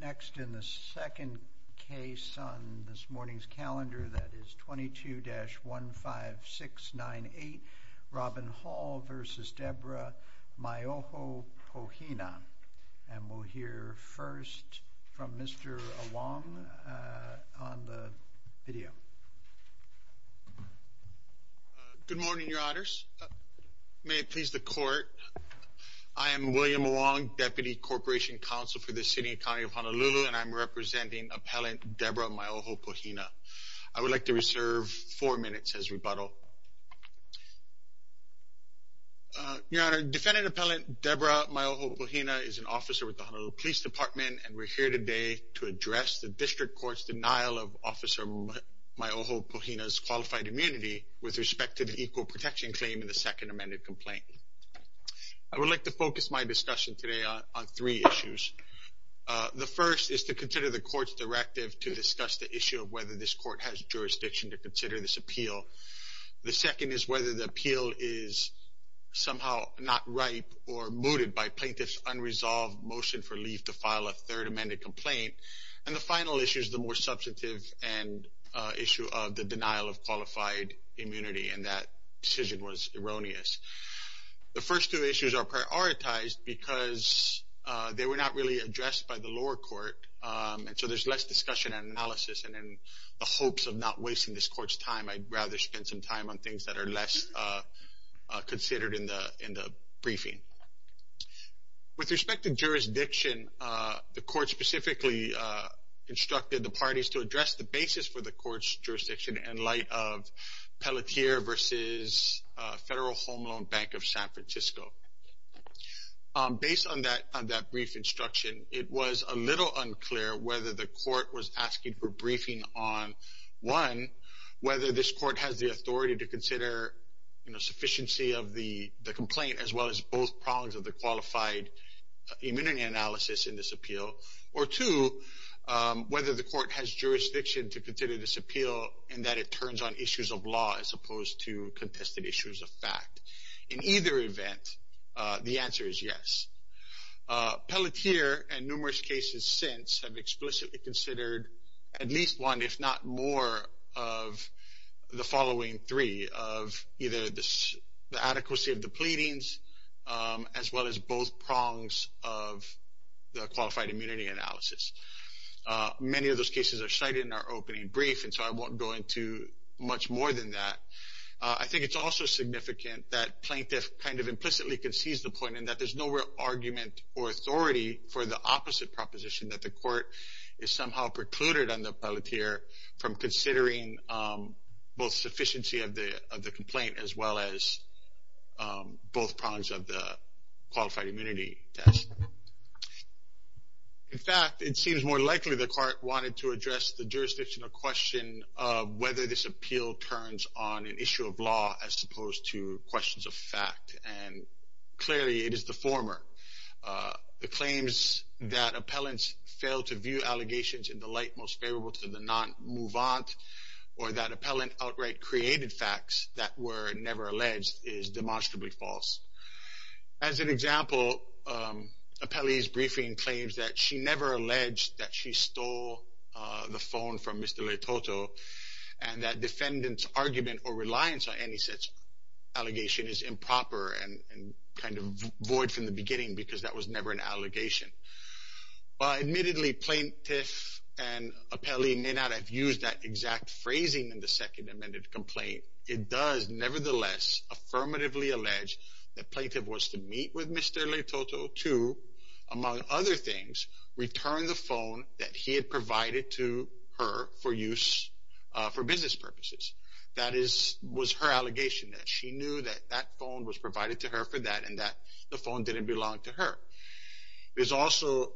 Next in the second case on this morning's calendar, that is 22-15698, Robin Hall v. Debra Maioho-Pohina, and we'll hear first from Mr. Along on the video. Good morning, Your Honors. May it please the Court, I am William Along, Deputy Corporation Counsel for the City and County of Honolulu, and I'm representing Appellant Debra Maioho-Pohina. I would like to reserve four minutes as rebuttal. Your Honor, Defendant Appellant Debra Maioho-Pohina is an officer with the Honolulu Police Department, and we're here today to address the District Court's denial of Officer Maioho-Pohina's qualified immunity with respect to the equal protection claim in the second amended complaint. I would like to focus my discussion today on three issues. The first is to consider the Court's directive to discuss the issue of whether this Court has jurisdiction to consider this appeal. The second is whether the appeal is somehow not ripe or mooted by Plaintiff's unresolved motion for leave to file a third amended complaint. And the final issue is the more substantive issue of the denial of qualified immunity, and that decision was erroneous. The first two issues are prioritized because they were not really addressed by the lower court, and so there's less discussion and analysis. And in the hopes of not wasting this Court's time, I'd rather spend some time on things that are less considered in the briefing. With respect to jurisdiction, the Court specifically instructed the parties to address the basis for the Court's jurisdiction in light of Pelletier v. Federal Home Loan Bank of San Francisco. Based on that brief instruction, it was a little unclear whether the Court was asking for briefing on, one, whether this Court has the authority to consider sufficiency of the complaint as well as both prongs of the qualified immunity analysis in this appeal, or two, whether the Court has jurisdiction to consider this appeal in that it turns on issues of law as opposed to contested issues of fact. In either event, the answer is yes. Pelletier and numerous cases since have explicitly considered at least one, if not more, of the following three, of either the adequacy of the pleadings as well as both prongs of the qualified immunity analysis. Many of those cases are cited in our opening brief, and so I won't go into much more than that. I think it's also significant that plaintiff kind of implicitly concedes the point in that there's no real argument or authority for the opposite proposition that the Court is somehow precluded on the Pelletier from considering both sufficiency of the complaint as well as both prongs of the qualified immunity test. In fact, it seems more likely the Court wanted to address the jurisdictional question of whether this appeal turns on an issue of law as opposed to questions of fact, and clearly it is the former. The claims that appellants fail to view allegations in the light most favorable to the non-mouvant, or that appellant outright created facts that were never alleged, is demonstrably false. As an example, Appellee's briefing claims that she never alleged that she stole the phone from Mr. Letoto and that defendant's argument or reliance on any such allegation is improper and kind of void from the beginning because that was never an allegation. While admittedly plaintiff and appellee may not have used that exact phrasing in the second amended complaint, it does nevertheless affirmatively allege that plaintiff was to meet with Mr. Letoto to, among other things, return the phone that he had provided to her for use for business purposes. That was her allegation, that she knew that that phone was provided to her for that and that the phone didn't belong to her. It is also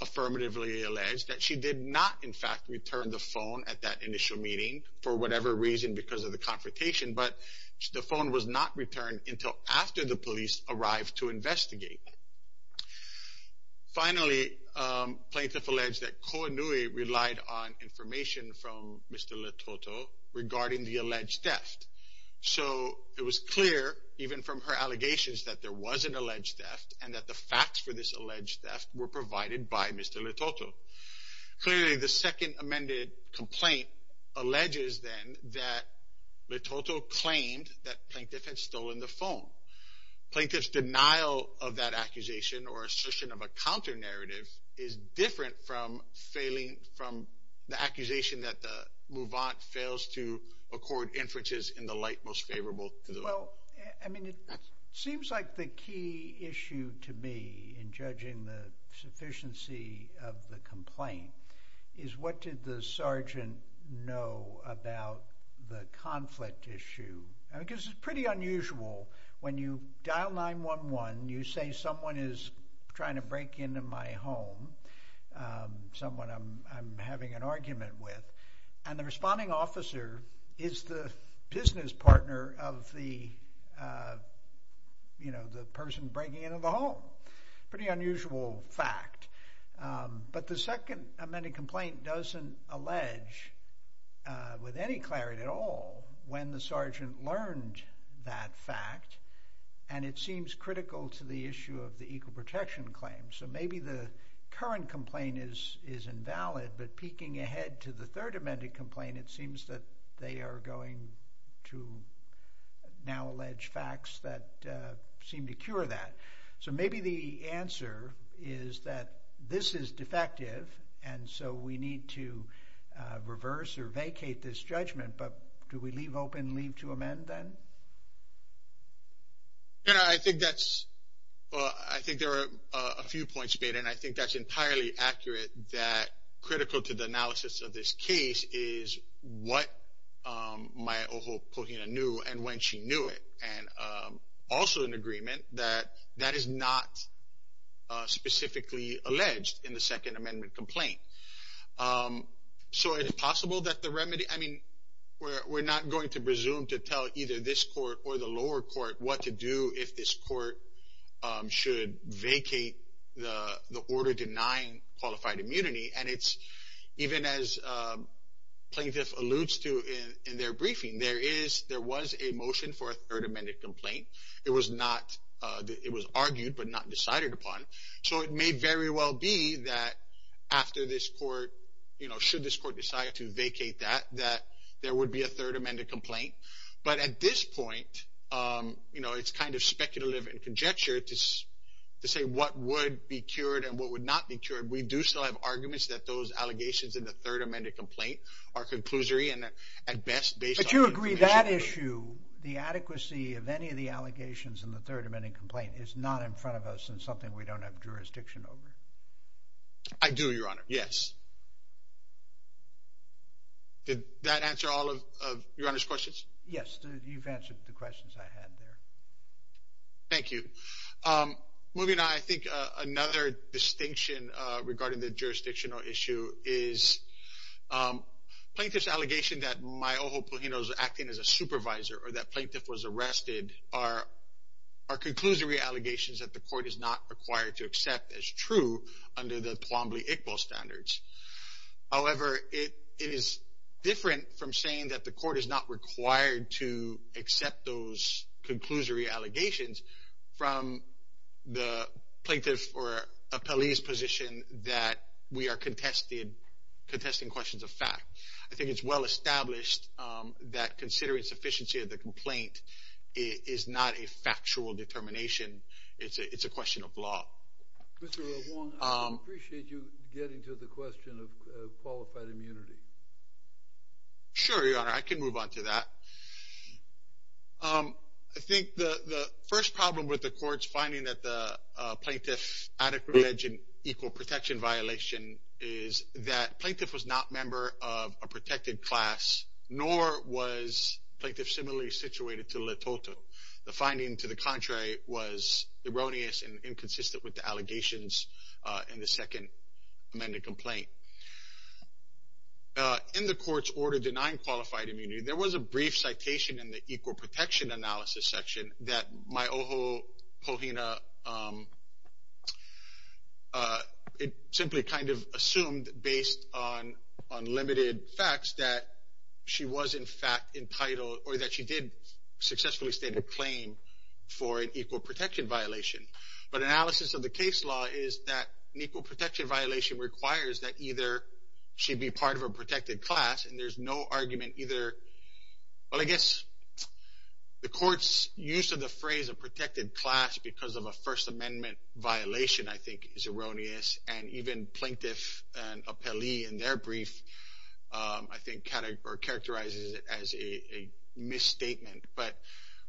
affirmatively alleged that she did not, in fact, return the phone at that initial meeting for whatever reason because of the confrontation, but the phone was not returned until after the police arrived to investigate. Finally, plaintiff alleged that Kohanui relied on information from Mr. Letoto regarding the alleged theft. So, it was clear, even from her allegations, that there was an alleged theft and that the facts for this alleged theft were provided by Mr. Letoto. Clearly, the second amended complaint alleges, then, that Letoto claimed that plaintiff had stolen the phone. Plaintiff's denial of that accusation or assertion of a counter-narrative is different from failing, from the accusation that the mouvant fails to accord inferences in the light most favorable to the law. Well, I mean, it seems like the key issue to me in judging the sufficiency of the complaint is what did the sergeant know about the conflict issue? I mean, because it's pretty unusual when you dial 911, you say someone is trying to break into my home, someone I'm having an argument with, and the responding officer is the business partner of the person breaking into the home. Pretty unusual fact. But the second amended complaint doesn't allege with any clarity at all when the sergeant learned that fact, and it seems critical to the issue of the equal protection claim. So maybe the current complaint is invalid, but peeking ahead to the third amended complaint, it seems that they are going to now allege facts that seem to cure that. So maybe the answer is that this is defective, and so we need to reverse or vacate this judgment, but do we leave open leave to amend, then? You know, I think that's, I think there are a few points made, and I think that's entirely accurate that critical to the analysis of this case is what Maya Ojo Pohina knew and when she knew it, and also an agreement that that is not specifically alleged in the second amended complaint. So it's possible that the remedy, I mean, we're not going to presume to tell either this court or the lower court what to do if this court should vacate the order denying qualified immunity, and it's even as plaintiff alludes to in their briefing, there is, there was a motion for a third amended complaint. It was not, it was argued but not decided upon. So it may very well be that after this court, you know, should this court decide to vacate that, that there would be a third amended complaint, but at this point, you know, it's kind of speculative and conjecture to say what would be cured and what would not be cured. We do still have arguments that those allegations in the third amended complaint are conclusory and at best based on... But you agree that issue, the adequacy of any of the allegations in the third amended complaint is not in front of us and something we don't have jurisdiction over? I do, Your Honor, yes. Did that answer all of Your Honor's questions? Yes, you've answered the questions I had there. Thank you. Moving on, I think another distinction regarding the jurisdictional issue is plaintiff's allegation that the court is not required to accept as true under the Plombly-Iqbal standards. However, it is different from saying that the court is not required to accept those conclusory allegations from the plaintiff or appellee's position that we are contesting questions of fact. I think it's well established that considering sufficiency of the complaint is not a factual determination. It's a question of law. Mr. Wong, I appreciate you getting to the question of qualified immunity. Sure, Your Honor, I can move on to that. I think the first problem with the court's finding that the plaintiff's adequate and equal protection violation is that plaintiff was not a member of a protected class, nor was plaintiff similarly situated to the latoto. The finding to the contrary was erroneous and inconsistent with the allegations in the second amended complaint. In the court's order denying qualified immunity, there was a brief citation in the equal protection analysis section that Myoho Kohina simply kind of assumed based on limited facts that she was in fact entitled or that she did successfully state a claim for an equal protection violation. But analysis of the case law is that an equal protection violation requires that either she be part of a protected class and there's no argument either, well I guess the court's use of the phrase a protected class because of a First Amendment violation I think is erroneous and even plaintiff and appellee in their brief I think characterizes it as a misstatement. But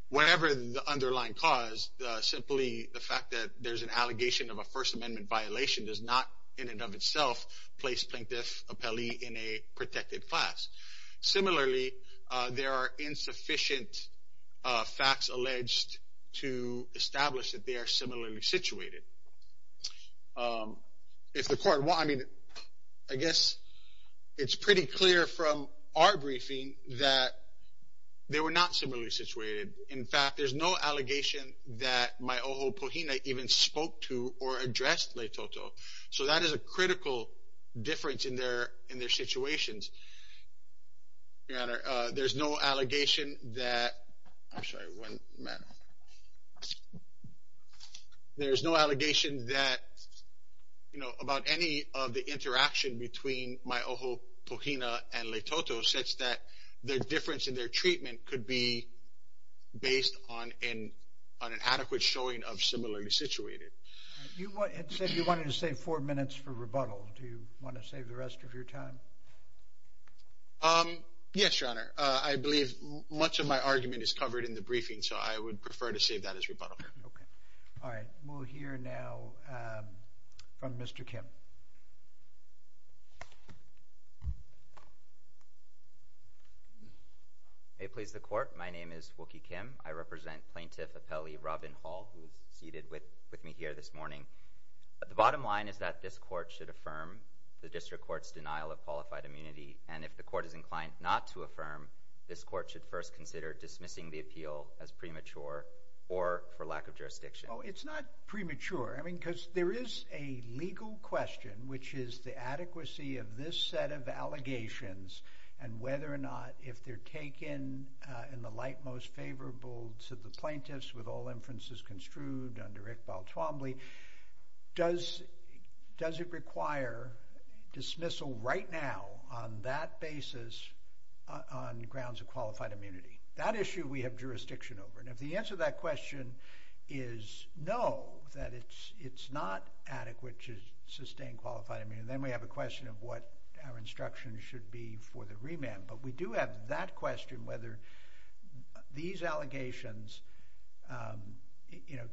whatever the underlying cause, simply the fact that there's an allegation of a First Amendment violation does not in and of itself place plaintiff, appellee in a protected class. Similarly, there are insufficient facts alleged to establish that they are similarly situated. If the court, well I mean, I guess it's pretty clear from our briefing that they were not similarly situated. In fact, there's no allegation that Myoho Kohina even spoke to or addressed Leitoto. So that is a critical difference in their situations. Your Honor, there's no allegation that, I'm sorry, one minute. There's no allegation that, you know, about any of the interaction between Myoho Kohina and Leitoto such that their difference in their treatment could be based on an adequate showing of similarly situated. You had said you wanted to save four minutes for rebuttal. Do you want to save the rest of your time? Yes, Your Honor. I believe much of my argument is covered in the briefing, so I would prefer to save that as rebuttal. All right, we'll hear now from Mr. Kim. May it please the Court, my name is Wookie Kim. I represent Plaintiff Appellee Robin Hall, who is seated with me here this morning. The bottom line is that this Court should affirm the District Court's denial of qualified immunity, and if the Court is inclined not to affirm, this Court should first consider dismissing the appeal as premature or for lack of jurisdiction. Well, it's not premature. I mean, because there is a legal question, which is the adequacy of this set of allegations and whether or not, if they're taken in the light most favorable to the plaintiffs with all inferences construed under Iqbal Twombly, does it require dismissal right now on that basis on grounds of qualified immunity? That issue we have jurisdiction over, and if the answer to that question is no, that it's not adequate to sustain qualified immunity, then we have a question of what our instruction should be for the remand. But we do have that question, whether these allegations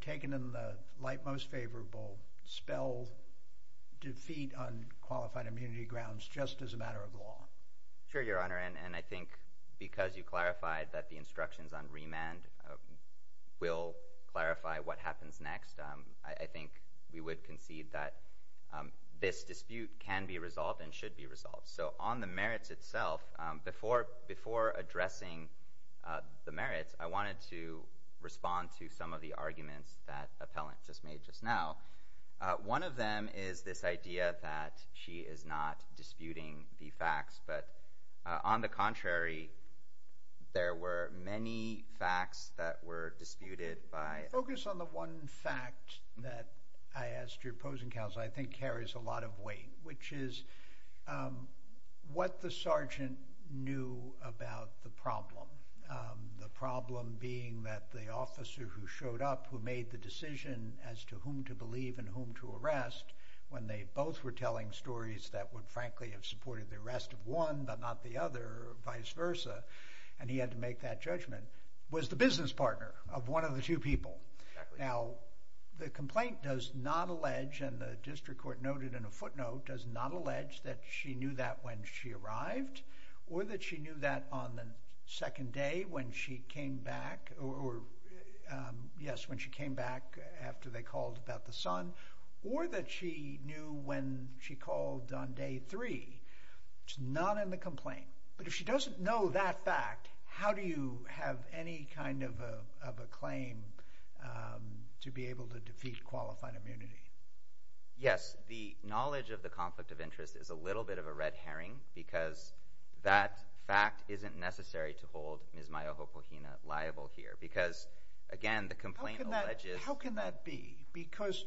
taken in the light most favorable spell defeat on qualified immunity grounds just as a matter of law. Sure, Your Honor, and I think because you clarified that the instructions on remand will clarify what happens next, I think we would concede that this dispute can be resolved and should be resolved. So on the merits itself, before addressing the merits, I wanted to respond to some of the arguments that Appellant just made just now. One of them is this idea that she is not disputing the facts, but on the contrary, there were many facts that were disputed by. Focus on the one fact that I asked your opposing counsel. I think carries a lot of weight, which is what the sergeant knew about the problem. The problem being that the officer who showed up, who made the decision as to whom to believe and whom to arrest, when they both were telling stories that would frankly have supported the arrest of one, but not the other, or vice versa, and he had to make that judgment, was the business partner of one of the two people. Now, the complaint does not allege, and the district court noted in a footnote, does not allege that she knew that when she arrived, or that she knew that on the second day when she came back, or yes, when she came back after they called about the son, or that she knew when she called on day three. It's not in the complaint. But if she doesn't know that fact, how do you have any kind of a claim to be able to defeat qualified immunity? Yes, the knowledge of the conflict of interest is a little bit of a red herring because that fact isn't necessary to hold Ms. Maya Hopohina liable here because, again, the complaint alleges— How can that be? Because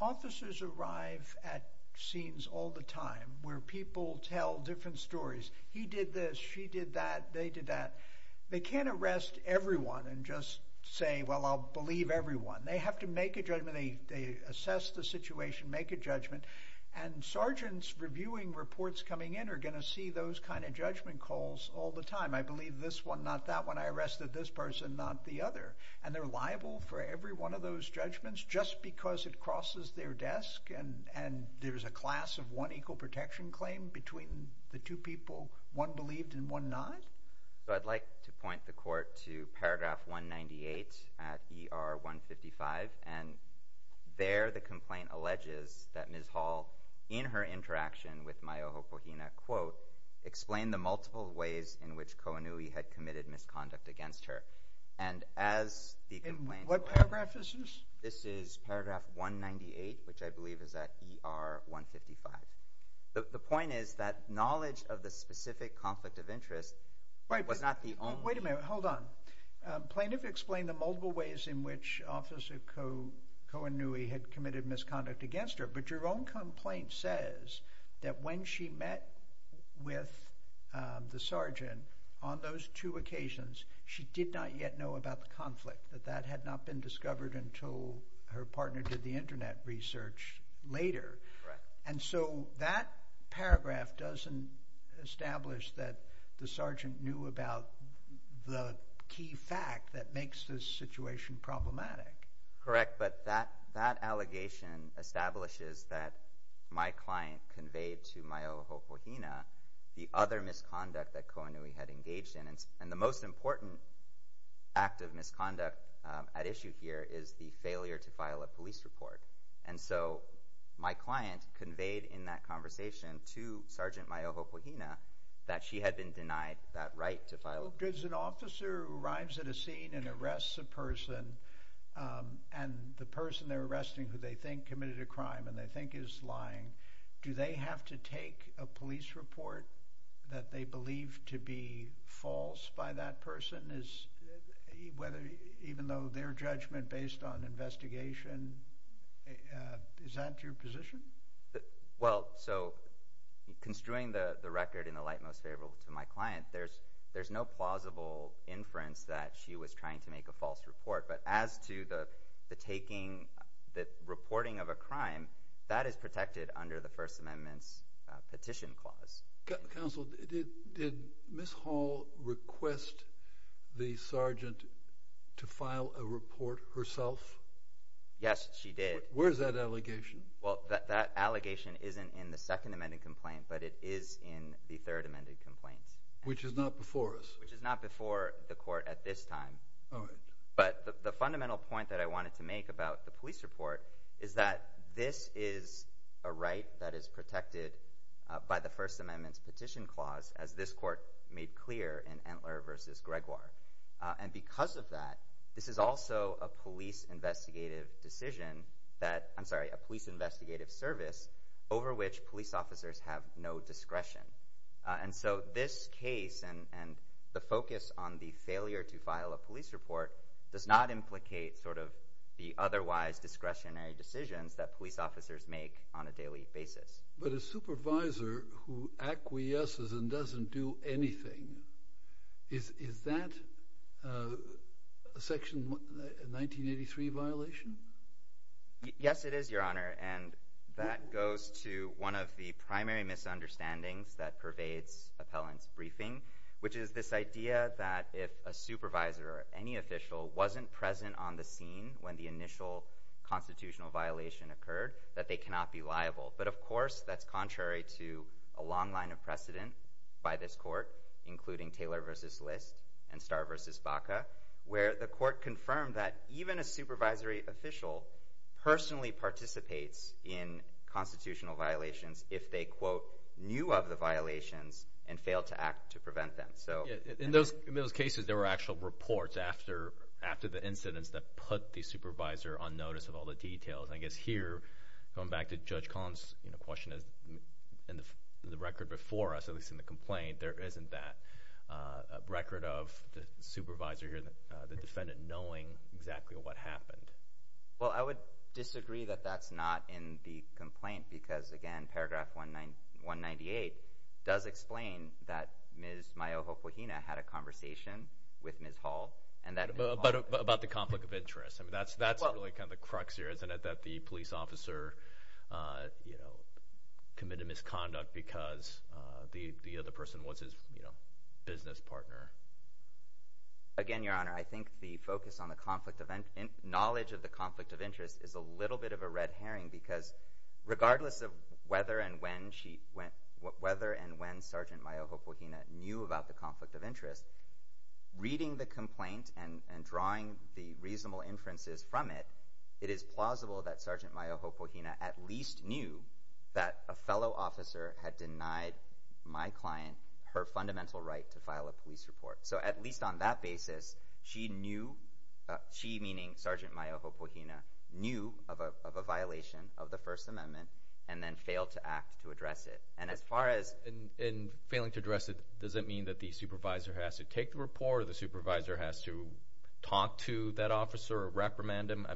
officers arrive at scenes all the time where people tell different stories. He did this, she did that, they did that. They can't arrest everyone and just say, well, I'll believe everyone. They have to make a judgment. They assess the situation, make a judgment. And sergeants reviewing reports coming in are going to see those kind of judgment calls all the time. I believe this one, not that one. I arrested this person, not the other. And they're liable for every one of those judgments just because it crosses their desk and there's a class of one equal protection claim between the two people, one believed and one not? So I'd like to point the court to paragraph 198 at ER 155. And there the complaint alleges that Ms. Hall, in her interaction with Maya Hopohina, explained the multiple ways in which Kohanui had committed misconduct against her. And as the complaint— What paragraph is this? This is paragraph 198, which I believe is at ER 155. The point is that knowledge of the specific conflict of interest was not the only— Wait a minute. Hold on. Plaintiff explained the multiple ways in which Officer Kohanui had committed misconduct against her, but your own complaint says that when she met with the sergeant, on those two occasions, she did not yet know about the conflict, that that had not been discovered until her partner did the Internet research later. Correct. And so that paragraph doesn't establish that the sergeant knew about the key fact that makes this situation problematic. Correct, but that allegation establishes that my client conveyed to Maya Hopohina the other misconduct that Kohanui had engaged in. And the most important act of misconduct at issue here is the failure to file a police report. And so my client conveyed in that conversation to Sergeant Maya Hopohina that she had been denied that right to file— Because an officer arrives at a scene and arrests a person, and the person they're arresting who they think committed a crime and they think is lying, do they have to take a police report that they believe to be false by that person? Even though their judgment based on investigation, is that your position? Well, so construing the record in the light most favorable to my client, there's no plausible inference that she was trying to make a false report. But as to the reporting of a crime, that is protected under the First Amendment's petition clause. Counsel, did Ms. Hall request the sergeant to file a report herself? Yes, she did. Where is that allegation? Well, that allegation isn't in the second amended complaint, but it is in the third amended complaint. Which is not before us. Which is not before the court at this time. All right. But the fundamental point that I wanted to make about the police report is that this is a right that is protected by the First Amendment's petition clause, as this court made clear in Entler v. Gregoire. And because of that, this is also a police investigative decision that, I'm sorry, a police investigative service over which police officers have no discretion. And so this case and the focus on the failure to file a police report does not implicate sort of the otherwise discretionary decisions that police officers make on a daily basis. But a supervisor who acquiesces and doesn't do anything, is that a Section 1983 violation? Yes, it is, Your Honor. And that goes to one of the primary misunderstandings that pervades appellant's briefing, which is this idea that if a supervisor or any official wasn't present on the scene when the initial constitutional violation occurred, that they cannot be liable. But of course, that's contrary to a long line of precedent by this court, including Taylor v. List and Starr v. Baca, where the court confirmed that even a supervisory official personally participates in constitutional violations if they, quote, knew of the violations and failed to act to prevent them. In those cases, there were actual reports after the incidents that put the supervisor on notice of all the details. I guess here, going back to Judge Collins' question, in the record before us, at least in the complaint, there isn't that record of the supervisor or the defendant knowing exactly what happened. Well, I would disagree that that's not in the complaint because, again, Paragraph 198 does explain that Ms. Mayoho-Kohina had a conversation with Ms. Hall. But about the conflict of interest. That's really kind of the crux here, isn't it, that the police officer committed misconduct because the other person was his business partner? Again, Your Honor, I think the focus on the knowledge of the conflict of interest is a little bit of a red herring because regardless of whether and when Sergeant Mayoho-Kohina knew about the conflict of interest, reading the complaint and drawing the reasonable inferences from it, it is plausible that Sergeant Mayoho-Kohina at least knew that a fellow officer had denied my client her fundamental right to file a police report. So at least on that basis, she knew, she, meaning Sergeant Mayoho-Kohina, knew of a violation of the First Amendment and then failed to act to address it. And failing to address it doesn't mean that the supervisor has to take the report or the supervisor has to talk to that officer or reprimand him?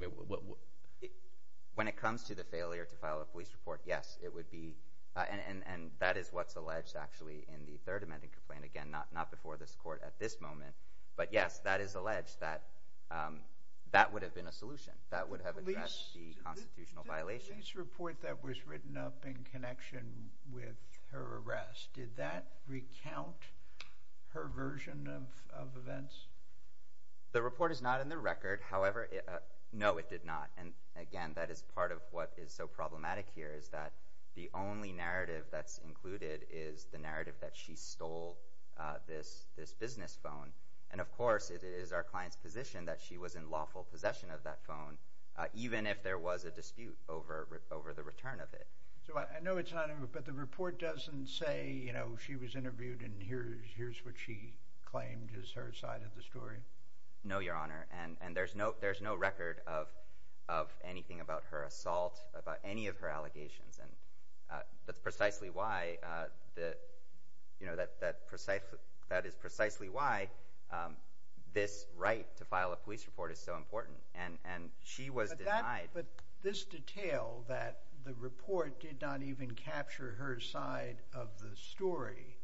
When it comes to the failure to file a police report, yes, it would be. And that is what's alleged, actually, in the Third Amendment complaint. Again, not before this Court at this moment. But yes, that is alleged that that would have been a solution. That would have addressed the constitutional violation. The police report that was written up in connection with her arrest, did that recount her version of events? The report is not in the record. However, no, it did not. And again, that is part of what is so problematic here is that the only narrative that's included is the narrative that she stole this business phone. And of course, it is our client's position that she was in lawful possession of that phone, even if there was a dispute over the return of it. So I know it's not in the report, but the report doesn't say she was interviewed and here's what she claimed is her side of the story? No, Your Honor. And there's no record of anything about her assault, about any of her allegations. That is precisely why this right to file a police report is so important, and she was denied. But this detail that the report did not even capture her side of the story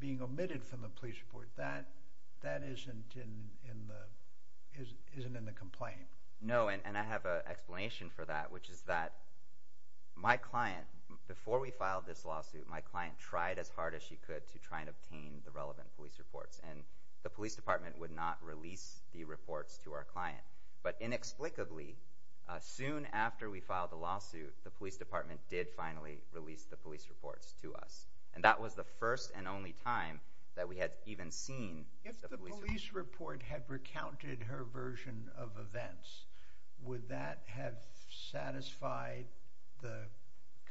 being omitted from the police report, that isn't in the complaint. No, and I have an explanation for that, which is that my client, before we filed this lawsuit, my client tried as hard as she could to try and obtain the relevant police reports, and the police department would not release the reports to our client. But inexplicably, soon after we filed the lawsuit, the police department did finally release the police reports to us. And that was the first and only time that we had even seen the police reports. If the police report had recounted her version of events, would that have satisfied the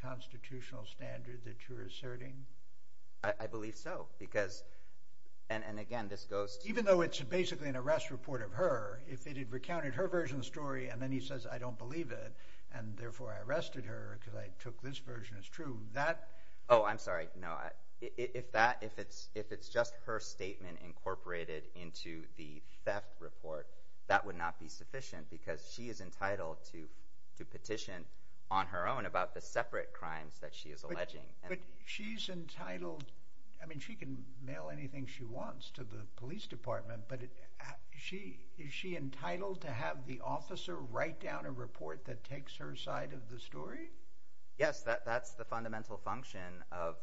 constitutional standard that you're asserting? I believe so, because, and again, this goes to— Even though it's basically an arrest report of her, if it had recounted her version of the story and then he says, I don't believe it, and therefore I arrested her because I took this version as true, that— Oh, I'm sorry. No, if it's just her statement incorporated into the theft report, that would not be sufficient because she is entitled to petition on her own about the separate crimes that she is alleging. But she's entitled—I mean, she can mail anything she wants to the police department, but is she entitled to have the officer write down a report that takes her side of the story? Yes, that's the fundamental function of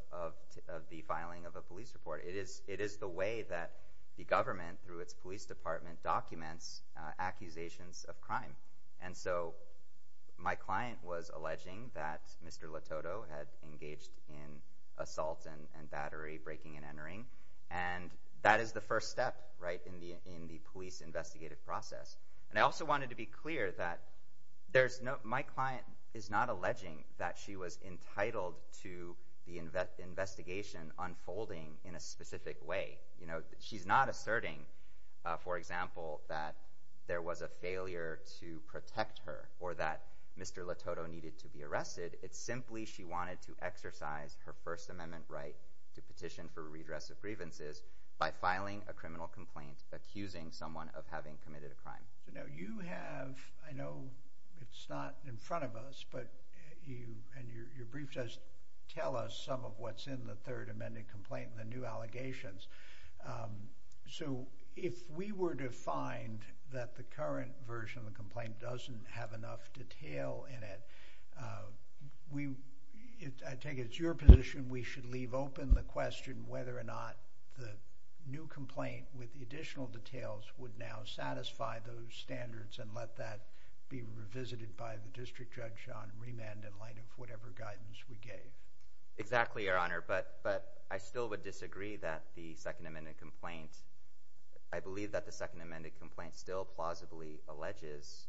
the filing of a police report. It is the way that the government, through its police department, documents accusations of crime. And so my client was alleging that Mr. Lototo had engaged in assault and battery, breaking and entering, and that is the first step in the police investigative process. And I also wanted to be clear that my client is not alleging that she was entitled to the investigation unfolding in a specific way. She's not asserting, for example, that there was a failure to protect her or that Mr. Lototo needed to be arrested. It's simply she wanted to exercise her First Amendment right to petition for redress of grievances by filing a criminal complaint accusing someone of having committed a crime. So now you have—I know it's not in front of us, but you—and your brief does tell us some of what's in the third amended complaint and the new allegations. So if we were to find that the current version of the complaint doesn't have enough detail in it, I take it it's your position we should leave open the question whether or not the new complaint with the additional details would now satisfy those standards and let that be revisited by the district judge on remand in light of whatever guidance we gave? Exactly, Your Honor, but I still would disagree that the second amended complaint— I believe that the second amended complaint still plausibly alleges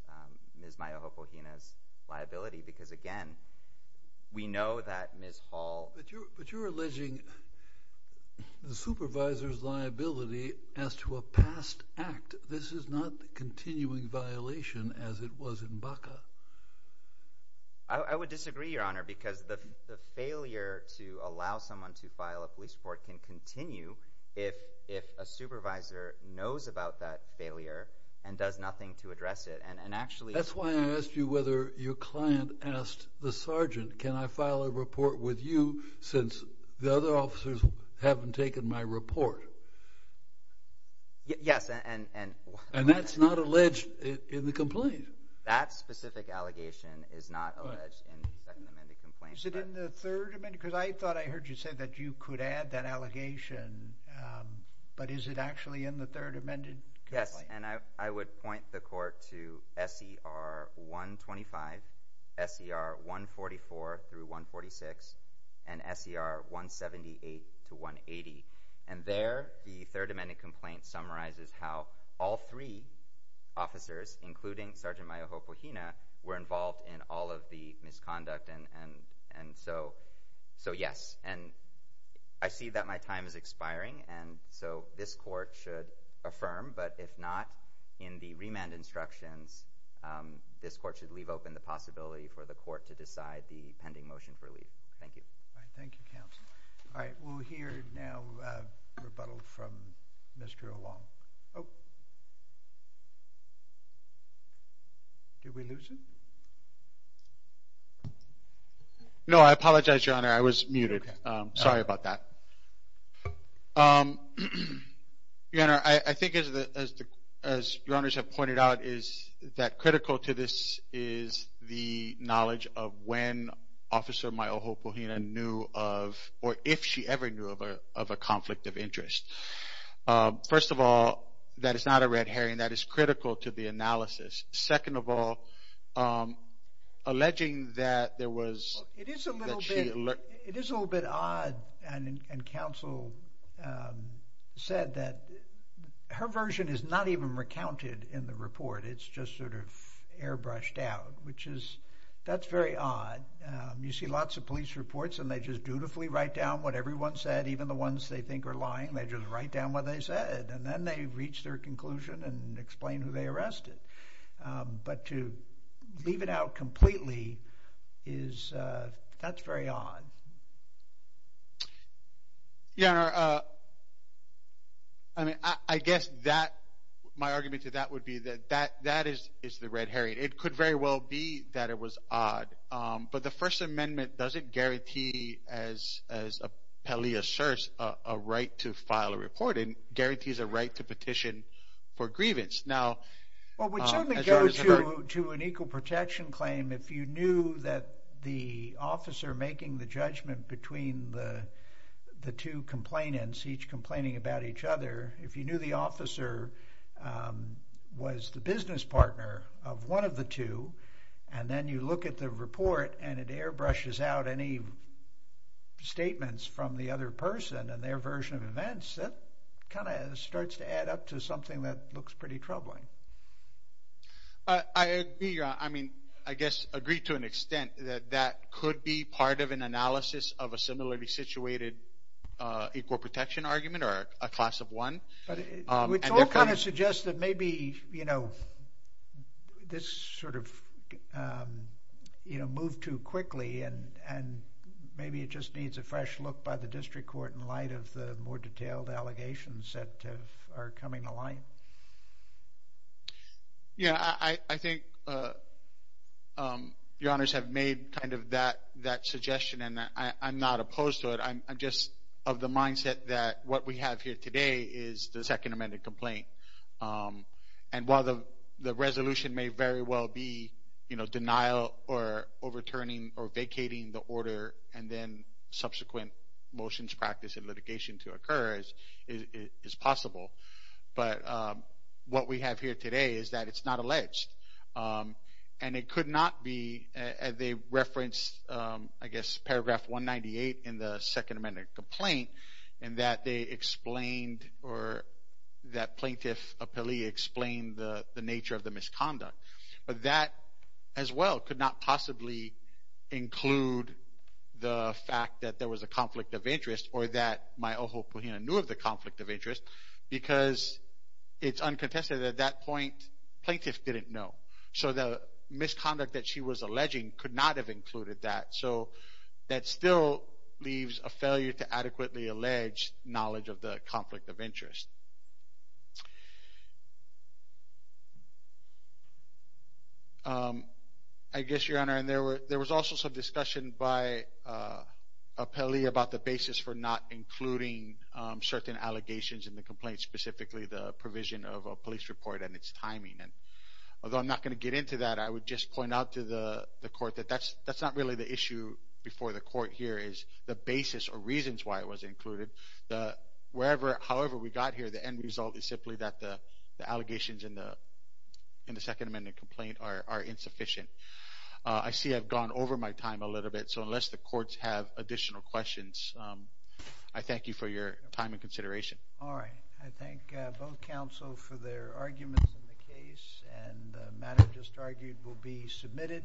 Ms. Mayoho-Pohina's liability because, again, we know that Ms. Hall— But you're alleging the supervisor's liability as to a past act. This is not the continuing violation as it was in Baca. I would disagree, Your Honor, because the failure to allow someone to file a police report can continue if a supervisor knows about that failure and does nothing to address it and actually— since the other officers haven't taken my report. Yes, and— And that's not alleged in the complaint. That specific allegation is not alleged in the second amended complaint. Is it in the third amended? Because I thought I heard you say that you could add that allegation, but is it actually in the third amended complaint? Yes, and I would point the court to S.E.R. 125, S.E.R. 144 through 146, and S.E.R. 178 to 180, and there the third amended complaint summarizes how all three officers, including Sergeant Mayoho-Pohina, were involved in all of the misconduct, and so yes. And I see that my time is expiring, and so this court should affirm, but if not, in the remand instructions, this court should leave open the possibility for the court to decide the pending motion for leave. Thank you. Thank you, counsel. All right, we'll hear now a rebuttal from Mr. O'Long. Did we lose him? No, I apologize, Your Honor. I was muted. Sorry about that. Your Honor, I think as Your Honors have pointed out, that critical to this is the knowledge of when Officer Mayoho-Pohina knew of, or if she ever knew of, a conflict of interest. First of all, that is not a red herring. That is critical to the analysis. Second of all, alleging that there was... It is a little bit odd, and counsel said that her version is not even recounted in the report. It's just sort of airbrushed out, which is, that's very odd. You see lots of police reports, and they just dutifully write down what everyone said, even the ones they think are lying. They just write down what they said, and then they reach their conclusion and explain who they arrested. But to leave it out completely, that's very odd. Your Honor, I guess my argument to that would be that that is the red herring. It could very well be that it was odd, but the First Amendment doesn't guarantee, as Pelley asserts, a right to file a report. It guarantees a right to petition for grievance. Well, it would certainly go to an equal protection claim if you knew that the officer making the judgment between the two complainants, each complaining about each other, if you knew the officer was the business partner of one of the two, and then you look at the report and it airbrushes out any statements from the other person and their version of events, that kind of starts to add up to something that looks pretty troubling. I agree, Your Honor. I mean, I guess agree to an extent that that could be part of an analysis of a similarly situated equal protection argument or a class of one. Which all kind of suggests that maybe this sort of moved too quickly and maybe it just needs a fresh look by the district court in light of the more detailed allegations that are coming to light. Yeah, I think Your Honors have made kind of that suggestion, and I'm not opposed to it. I'm just of the mindset that what we have here today is the Second Amendment complaint. And while the resolution may very well be denial or overturning or vacating the order and then subsequent motions, practice, and litigation to occur is possible, but what we have here today is that it's not alleged. And it could not be, they referenced, I guess, paragraph 198 in the Second Amendment complaint in that they explained or that plaintiff appealee explained the nature of the misconduct. But that, as well, could not possibly include the fact that there was a conflict of interest or that Myoho Pohina knew of the conflict of interest because it's uncontested that at that point plaintiff didn't know. So the misconduct that she was alleging could not have included that. So that still leaves a failure to adequately allege knowledge of the conflict of interest. I guess, Your Honor, there was also some discussion by appellee about the basis for not including certain allegations in the complaint, specifically the provision of a police report and its timing. Although I'm not going to get into that, I would just point out to the court that that's not really the issue before the court here is the basis or reasons why it was included. However we got here, the end result is simply that the allegations in the Second Amendment complaint are insufficient. I see I've gone over my time a little bit, so unless the courts have additional questions, I thank you for your time and consideration. All right. I thank both counsel for their arguments in the case, and the matter just argued will be submitted.